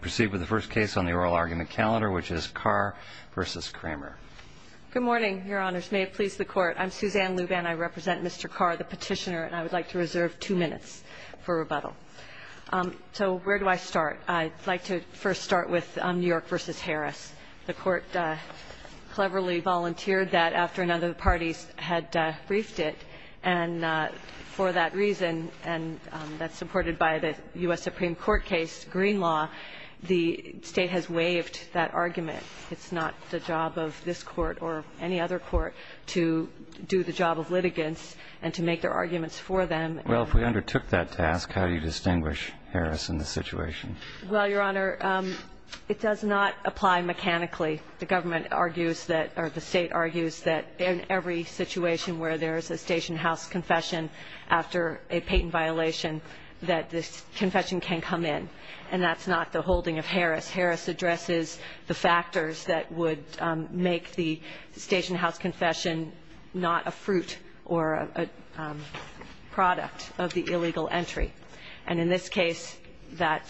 Proceed with the first case on the oral argument calendar, which is Carr v. Kramer. Good morning, Your Honors. May it please the Court. I'm Suzanne Luban. I represent Mr. Carr, the petitioner, and I would like to reserve two minutes for rebuttal. So where do I start? I'd like to first start with New York v. Harris. The Court cleverly volunteered that after none of the parties had briefed it. And for that reason, and that's supported by the U.S. Supreme Court case, Green Law, the State has waived that argument. It's not the job of this Court or any other Court to do the job of litigants and to make their arguments for them. Well, if we undertook that task, how do you distinguish Harris in this situation? Well, Your Honor, it does not apply mechanically. The government argues that or the State argues that in every situation where there is a station house confession after a patent violation, that this confession can come in, and that's not the holding of Harris. Harris addresses the factors that would make the station house confession not a fruit or a product of the illegal entry. And in this case, that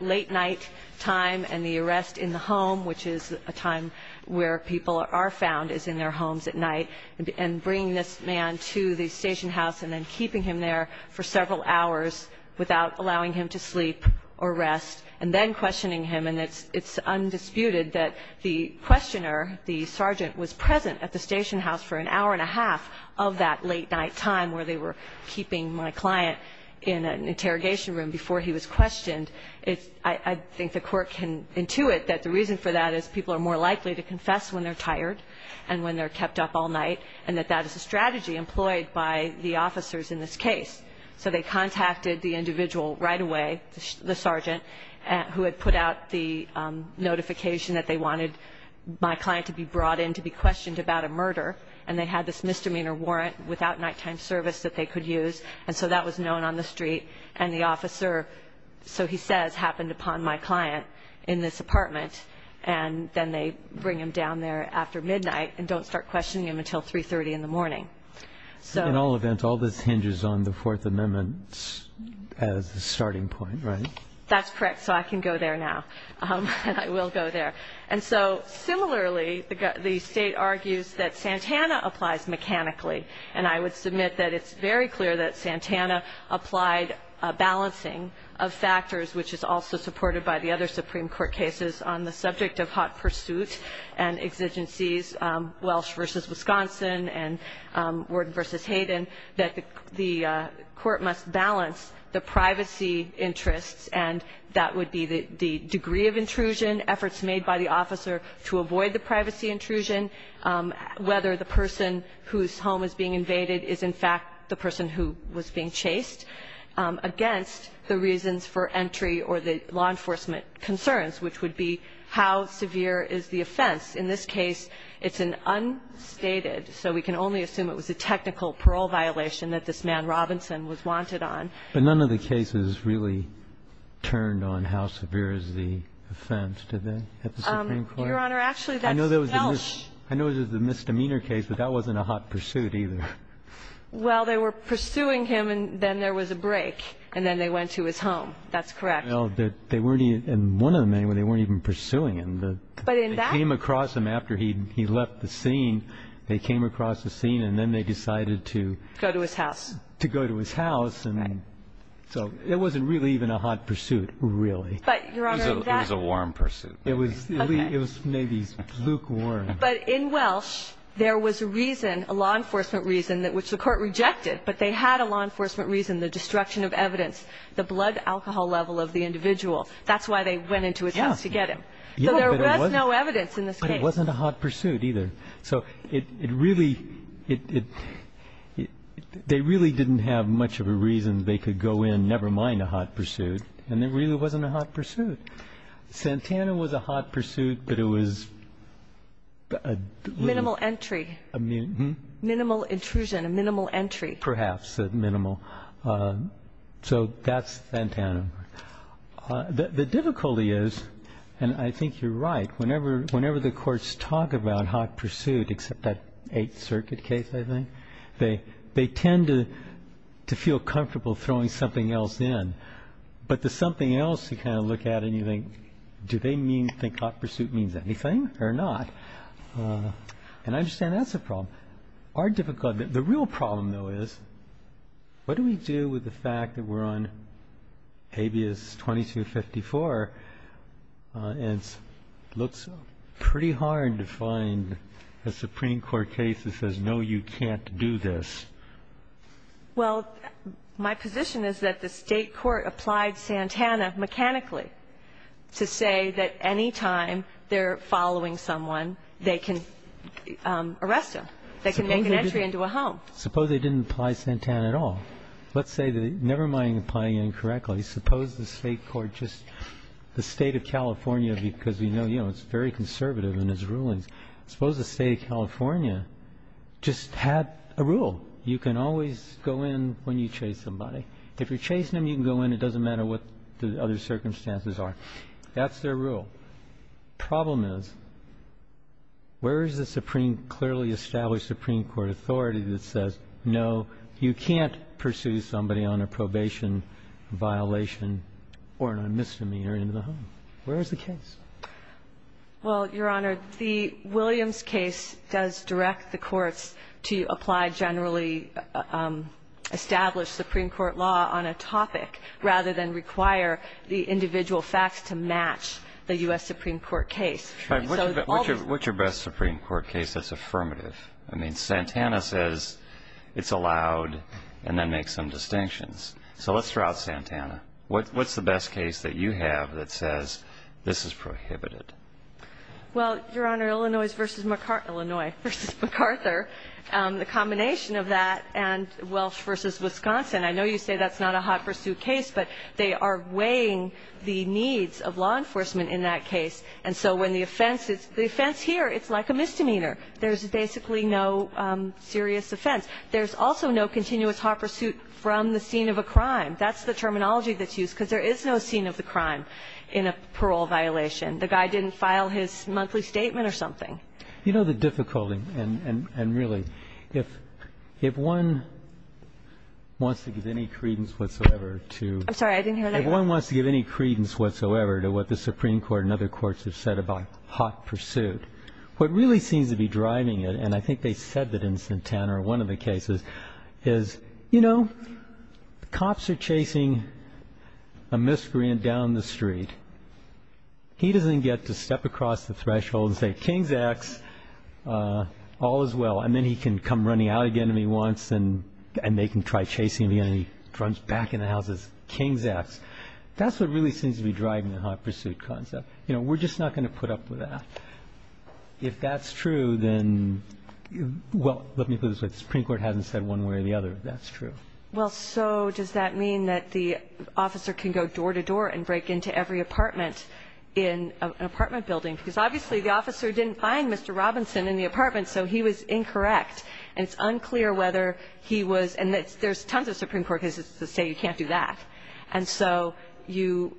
late night time and the arrest in the home, which is a time where people are found, is in their homes at night, and bringing this man to the station house and then keeping him there for several hours without allowing him to sleep or rest, and then questioning him. And it's undisputed that the questioner, the sergeant, was present at the station house for an hour and a half of that late night time where they were keeping my client in an interrogation room before he was questioned. I think the Court can intuit that the reason for that is people are more likely to confess when they're tired and when they're kept up all night, and that that is a strategy employed by the officers in this case. So they contacted the individual right away, the sergeant, who had put out the notification that they wanted my client to be brought in to be questioned about a murder, and they had this misdemeanor warrant without nighttime service that they could use, and so that was known on the street. And the officer, so he says, happened upon my client in this apartment, and then they bring him down there after midnight and don't start questioning him until 3.30 in the morning. In all events, all this hinges on the Fourth Amendment as a starting point, right? That's correct, so I can go there now, and I will go there. And so similarly, the State argues that Santana applies mechanically, and I would submit that it's very clear that Santana applied a balancing of factors, which is also supported by the other Supreme Court cases on the subject of hot pursuit and exigencies, Welsh v. Wisconsin and Worden v. Hayden, that the Court must balance the privacy interests, and that would be the degree of intrusion, efforts made by the officer to avoid the privacy intrusion, whether the person whose home is being invaded is, in fact, the person who was being chased, against the reasons for entry or the law enforcement concerns, which would be how severe is the offense. In this case, it's an unstated, so we can only assume it was a technical parole violation that this man Robinson was wanted on. But none of the cases really turned on how severe is the offense, did they, at the Supreme Court? Your Honor, actually, that's Welsh. I know it was a misdemeanor case, but that wasn't a hot pursuit either. Well, they were pursuing him, and then there was a break, and then they went to his home. That's correct. Well, they weren't even one of them anyway. They weren't even pursuing him. But in that case. They came across him after he left the scene. They came across the scene, and then they decided to go to his house. To go to his house. So it wasn't really even a hot pursuit, really. It was a warm pursuit. It was maybe lukewarm. But in Welsh, there was a reason, a law enforcement reason, which the court rejected, but they had a law enforcement reason, the destruction of evidence, the blood alcohol level of the individual. That's why they went into his house to get him. So there was no evidence in this case. But it wasn't a hot pursuit either. So they really didn't have much of a reason they could go in, never mind a hot pursuit. And there really wasn't a hot pursuit. Santana was a hot pursuit, but it was a little. Minimal entry. Minimal intrusion, a minimal entry. Perhaps a minimal. So that's Santana. The difficulty is, and I think you're right, whenever the courts talk about hot pursuit, except that Eighth Circuit case, I think, they tend to feel comfortable throwing something else in. But the something else you kind of look at and you think, do they think hot pursuit means anything or not? And I understand that's a problem. The real problem, though, is what do we do with the fact that we're on habeas 2254 and it looks pretty hard to find a Supreme Court case that says, no, you can't do this? Well, my position is that the State court applied Santana mechanically to say that any time they're following someone, they can arrest them. They can make an entry into a home. Suppose they didn't apply Santana at all. Let's say that, never mind applying it incorrectly, suppose the State court just, the State of California, because we know it's very conservative in its rulings, suppose the State of California just had a rule. You can always go in when you chase somebody. If you're chasing them, you can go in. It doesn't matter what the other circumstances are. That's their rule. Problem is, where is the clearly established Supreme Court authority that says, no, you can't pursue somebody on a probation violation or an misdemeanor into the home? Where is the case? Well, Your Honor, the Williams case does direct the courts to apply generally established Supreme Court law on a topic rather than require the individual facts to match the U.S. Supreme Court case. Right. What's your best Supreme Court case that's affirmative? I mean, Santana says it's allowed and then makes some distinctions. So let's throw out Santana. What's the best case that you have that says this is prohibited? Well, Your Honor, Illinois versus McArthur, the combination of that and Welch versus Wisconsin, I know you say that's not a hot pursuit case, but they are weighing the needs of law enforcement in that case. And so when the offense is, the offense here, it's like a misdemeanor. There's basically no serious offense. There's also no continuous hot pursuit from the scene of a crime. That's the terminology that's used, because there is no scene of the crime in a parole violation. The guy didn't file his monthly statement or something. You know the difficulty, and really, if one wants to give any credence whatsoever to the Supreme Court and other courts have said about hot pursuit, what really seems to be driving it, and I think they said that in Santana or one of the cases, is, you know, cops are chasing a miscreant down the street. He doesn't get to step across the threshold and say, King's X, all is well. And then he can come running out again if he wants, and they can try chasing him again. He runs back in the house and says, King's X. That's what really seems to be driving the hot pursuit concept. You know, we're just not going to put up with that. If that's true, then, well, let me put it this way. The Supreme Court hasn't said one way or the other that that's true. Well, so does that mean that the officer can go door to door and break into every apartment in an apartment building? Because obviously the officer didn't find Mr. Robinson in the apartment, so he was incorrect. And it's unclear whether he was, and there's tons of Supreme Court cases that say you can't do that. And so you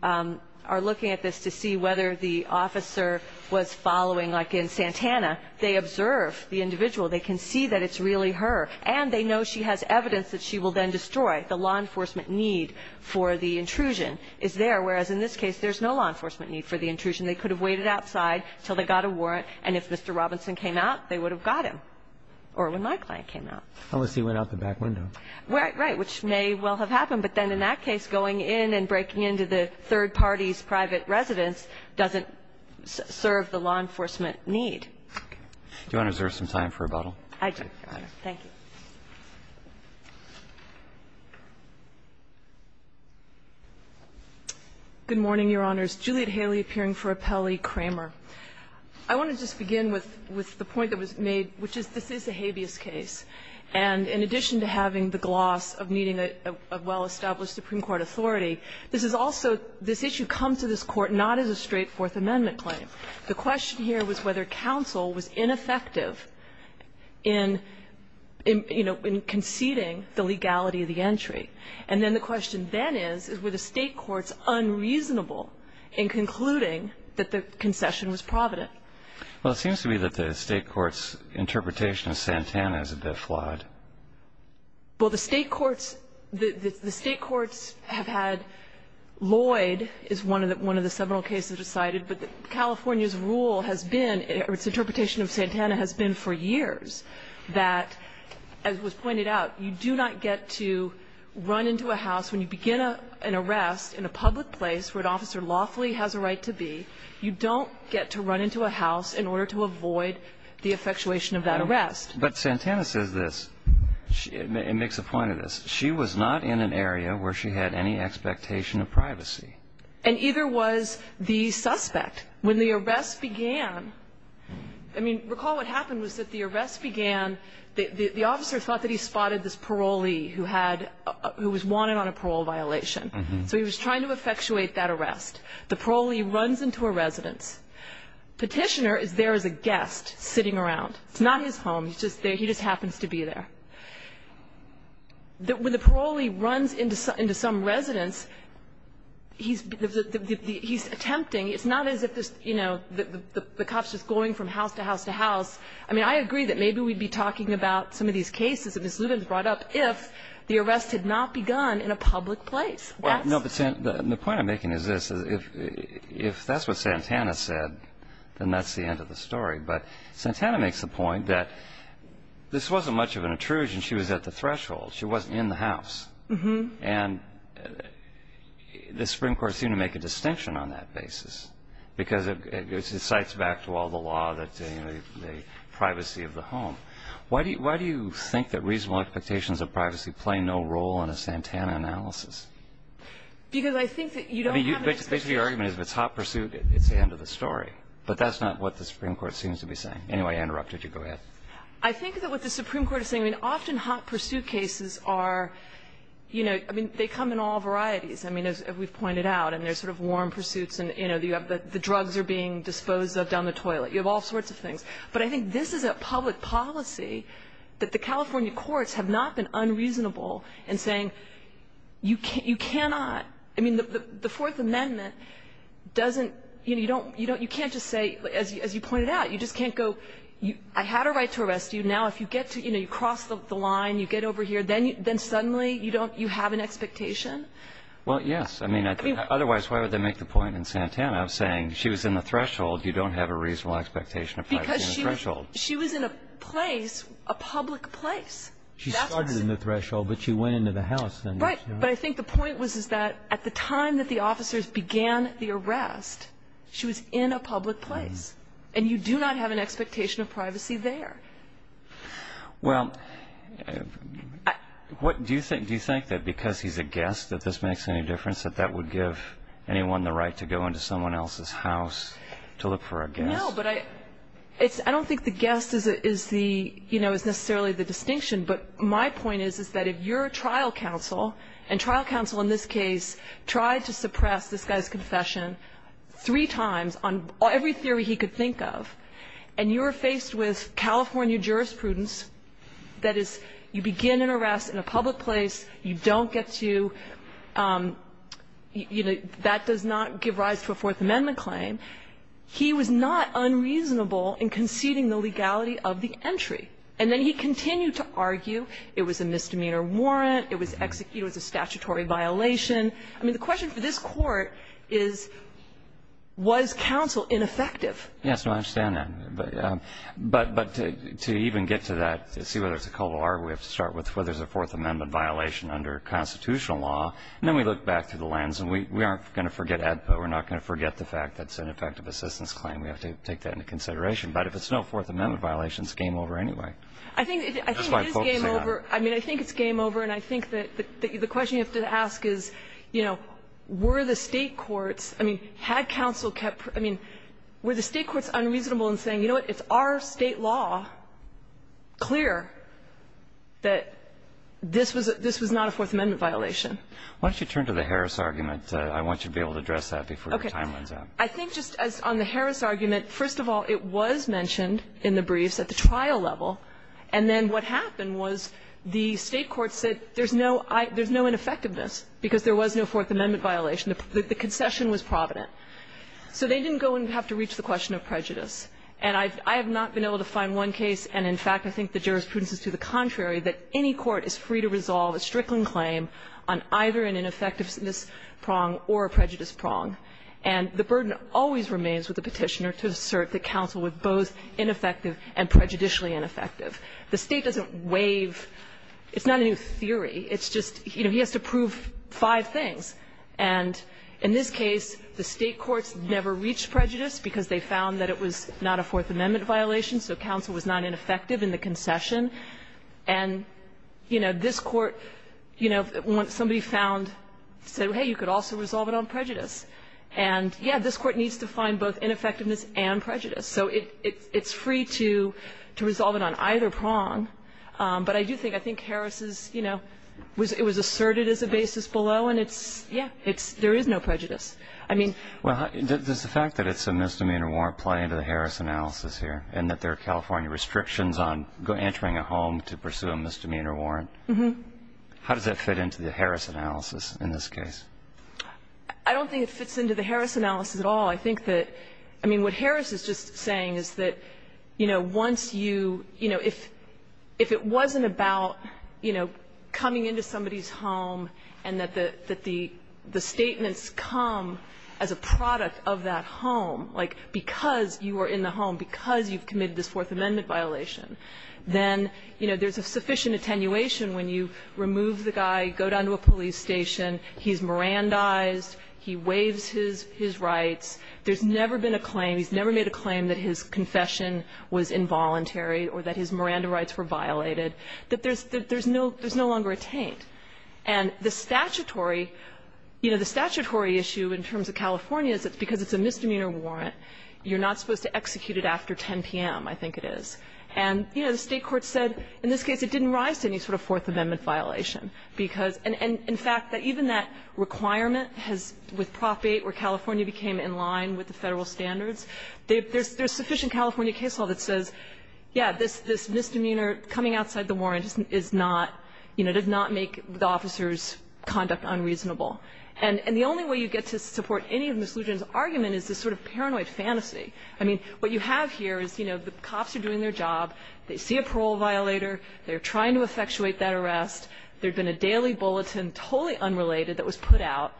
are looking at this to see whether the officer was following, like in Santana, they observe the individual. They can see that it's really her, and they know she has evidence that she will then destroy. The law enforcement need for the intrusion is there, whereas in this case there's no law enforcement need for the intrusion. They could have waited outside until they got a warrant, and if Mr. Robinson came out, they would have got him, or when my client came out. Unless he went out the back window. Right, right, which may well have happened. But then in that case, going in and breaking into the third party's private residence doesn't serve the law enforcement need. Okay. Do you want to reserve some time for rebuttal? I do, Your Honor. Thank you. Good morning, Your Honors. Juliet Haley appearing for Appellee Kramer. I want to just begin with the point that was made, which is this is a habeas case. And in addition to having the gloss of needing a well-established Supreme Court authority, this is also this issue comes to this Court not as a straight Fourth Amendment claim. The question here was whether counsel was ineffective in, you know, in conceding the legality of the entry. And then the question then is, were the State courts unreasonable in concluding that the concession was provident? Well, it seems to me that the State courts' interpretation of Santana is a bit flawed. Well, the State courts, the State courts have had Lloyd is one of the several cases decided, but California's rule has been, or its interpretation of Santana has been for years that, as was pointed out, you do not get to run into a house when you begin an arrest in a public place where an officer lawfully has a right to be. You don't get to run into a house in order to avoid the effectuation of that arrest. But Santana says this. It makes a point of this. She was not in an area where she had any expectation of privacy. And either was the suspect. When the arrest began, I mean, recall what happened was that the arrest began, the officer thought that he spotted this parolee who had, who was wanted on a parole violation. So he was trying to effectuate that arrest. The parolee runs into a residence. Petitioner is there as a guest sitting around. It's not his home. He's just there. He just happens to be there. When the parolee runs into some residence, he's attempting. It's not as if this, you know, the cop's just going from house to house to house. I mean, I agree that maybe we'd be talking about some of these cases that Ms. Lubens brought up if the arrest had not begun in a public place. The point I'm making is this. If that's what Santana said, then that's the end of the story. But Santana makes the point that this wasn't much of an intrusion. She was at the threshold. She wasn't in the house. And the Supreme Court seemed to make a distinction on that basis because it cites back to all the law the privacy of the home. Why do you think that reasonable expectations of privacy play no role in a Santana analysis? Because I think that you don't have an expectation. I mean, basically your argument is if it's hot pursuit, it's the end of the story. But that's not what the Supreme Court seems to be saying. Anyway, I interrupted you. Go ahead. I think that what the Supreme Court is saying, I mean, often hot pursuit cases are, you know, I mean, they come in all varieties. I mean, as we've pointed out, I mean, there's sort of warm pursuits and, you know, you have the drugs are being disposed of down the toilet. You have all sorts of things. But I think this is a public policy that the California courts have not been unreasonable in saying you cannot, I mean, the Fourth Amendment doesn't, you know, you don't, you can't just say, as you pointed out, you just can't go, I had a right to arrest you. Now if you get to, you know, you cross the line, you get over here, then suddenly you don't, you have an expectation. Well, yes. I mean, otherwise why would they make the point in Santana of saying she was in the threshold, you don't have a reasonable expectation of privacy in the threshold. Because she was in a place, a public place. She started in the threshold, but she went into the house. Right. But I think the point was is that at the time that the officers began the arrest, she was in a public place. And you do not have an expectation of privacy there. Well, do you think that because he's a guest that this makes any difference, that that would give anyone the right to go into someone else's house to look for a guest? No, but I don't think the guest is the, you know, is necessarily the distinction, but my point is, is that if your trial counsel, and trial counsel in this case tried to suppress this guy's confession three times on every theory he could think of, and you're faced with California jurisprudence, that is, you begin an arrest in a public place, you don't get to, you know, that does not give rise to a Fourth Amendment claim, he was not unreasonable in conceding the legality of the entry. And then he continued to argue it was a misdemeanor warrant, it was executed as a statutory violation. I mean, the question for this Court is, was counsel ineffective? Yes, no, I understand that. But to even get to that, to see whether it's a cul-de-sac, we have to start with whether there's a Fourth Amendment violation under constitutional law, and then we look back through the lens, and we aren't going to forget AEDPA. We're not going to forget the fact that it's an effective assistance claim. We have to take that into consideration. But if it's no Fourth Amendment violation, it's game over anyway. That's why folks say that. I think it is game over. I mean, I think it's game over. And I think that the question you have to ask is, you know, were the State courts – I mean, had counsel kept – I mean, were the State courts unreasonable in saying, you know what, it's our State law clear that this was not a Fourth Amendment violation? Why don't you turn to the Harris argument? I want you to be able to address that before your time runs out. Okay. I think just as on the Harris argument, first of all, it was mentioned in the briefs at the trial level. And then what happened was the State courts said there's no – there's no ineffectiveness because there was no Fourth Amendment violation. The concession was provident. So they didn't go and have to reach the question of prejudice. And I have not been able to find one case, and in fact I think the jurisprudence is to the contrary, that any court is free to resolve a Strickland claim on either an ineffectiveness prong or a prejudice prong. And the burden always remains with the Petitioner to assert that counsel was both ineffective and prejudicially ineffective. The State doesn't waive – it's not a new theory. It's just, you know, he has to prove five things. And in this case, the State courts never reached prejudice because they found that it was not a Fourth Amendment violation, so counsel was not ineffective in the concession. And, you know, this Court, you know, when somebody found – said, hey, you could also resolve it on prejudice. And, yeah, this Court needs to find both ineffectiveness and prejudice. So it's free to resolve it on either prong. But I do think – I think Harris' – you know, it was asserted as a basis below, and it's – yeah, it's – there is no prejudice. I mean – Well, does the fact that it's a misdemeanor warrant play into the Harris analysis here, in that there are California restrictions on entering a home to pursue a misdemeanor warrant? Mm-hmm. How does that fit into the Harris analysis in this case? I don't think it fits into the Harris analysis at all. I think that – I mean, what Harris is just saying is that, you know, once you – you know, if it wasn't about, you know, coming into somebody's home and that the – that the statements come as a product of that home, like because you were in the home, because you've committed this Fourth Amendment violation, then, you know, there's sufficient attenuation when you remove the guy, go down to a police station, he's Mirandized, he waives his – his rights. There's never been a claim – he's never made a claim that his confession was involuntary or that his Miranda rights were violated, that there's – that there's no – there's no longer a taint. And the statutory – you know, the statutory issue in terms of California is that because it's a misdemeanor warrant, you're not supposed to execute it after 10 p.m., I think it is. And, you know, the State court said in this case it didn't rise to any sort of Fourth Amendment violation, because – and in fact, that even that requirement has – with Prop 8 where California became in line with the Federal standards, there's – there's sufficient California case law that says, yeah, this – this misdemeanor coming outside the warrant is not – you know, did not make the officer's conduct unreasonable. And – and the only way you get to support any of Ms. Lujan's argument is this sort of paranoid fantasy. I mean, what you have here is, you know, the cops are doing their job. They see a parole violator. They're trying to effectuate that arrest. There had been a daily bulletin, totally unrelated, that was put out.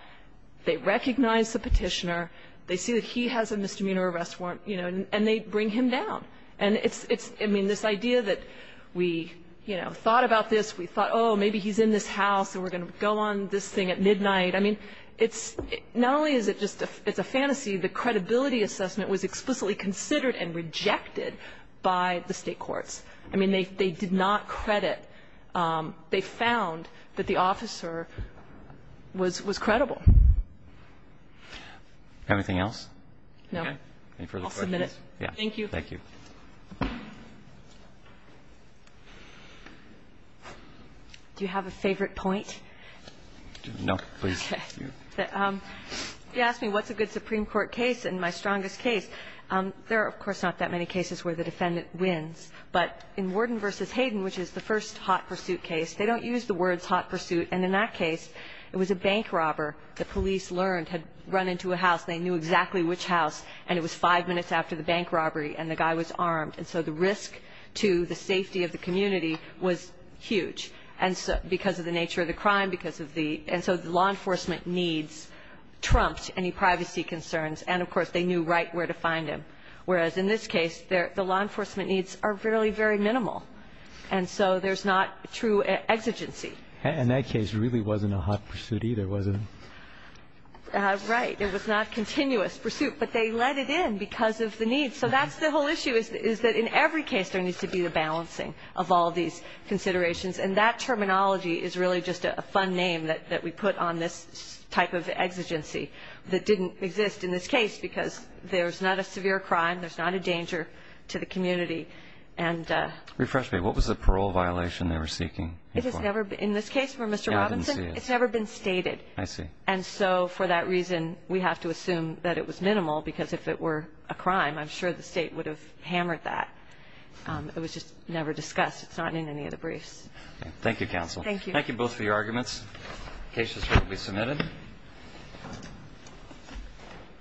They recognize the petitioner. They see that he has a misdemeanor arrest warrant, you know, and they bring him down. And it's – it's – I mean, this idea that we, you know, thought about this, we thought, oh, maybe he's in this house and we're going to go on this thing at midnight, I mean, it's – not only is it just a – it's a fantasy, the credibility assessment was explicitly considered and rejected by the State courts. I mean, they – they did not credit – they found that the officer was – was credible. Anything else? No. Any further questions? I'll submit it. Yeah. Thank you. Thank you. Do you have a favorite point? No, please. Okay. You asked me what's a good Supreme Court case, and my strongest case, there are, of course, not that many cases where the defendant wins. But in Worden v. Hayden, which is the first hot pursuit case, they don't use the words hot pursuit. And in that case, it was a bank robber the police learned had run into a house. They knew exactly which house, and it was five minutes after the bank robbery, and the guy was armed. And so the risk to the safety of the community was huge, and so – because of the nature of the crime, because of the – and so the law enforcement needs trumped any privacy concerns, and, of course, they knew right where to find him. Whereas in this case, the law enforcement needs are really very minimal, and so there's not true exigency. And that case really wasn't a hot pursuit either, was it? Right. It was not continuous pursuit, but they let it in because of the needs. So that's the whole issue, is that in every case there needs to be the balancing of all these considerations. And that terminology is really just a fun name that we put on this type of exigency that didn't exist in this case because there's not a severe crime, there's not a danger to the community. Refresh me. What was the parole violation they were seeking? It has never – in this case for Mr. Robinson, it's never been stated. I see. And so for that reason, we have to assume that it was minimal because if it were a crime, I'm sure the state would have hammered that. It was just never discussed. It's not in any of the briefs. Okay. Thank you, counsel. Thank you. Thank you both for your arguments. The case is currently submitted.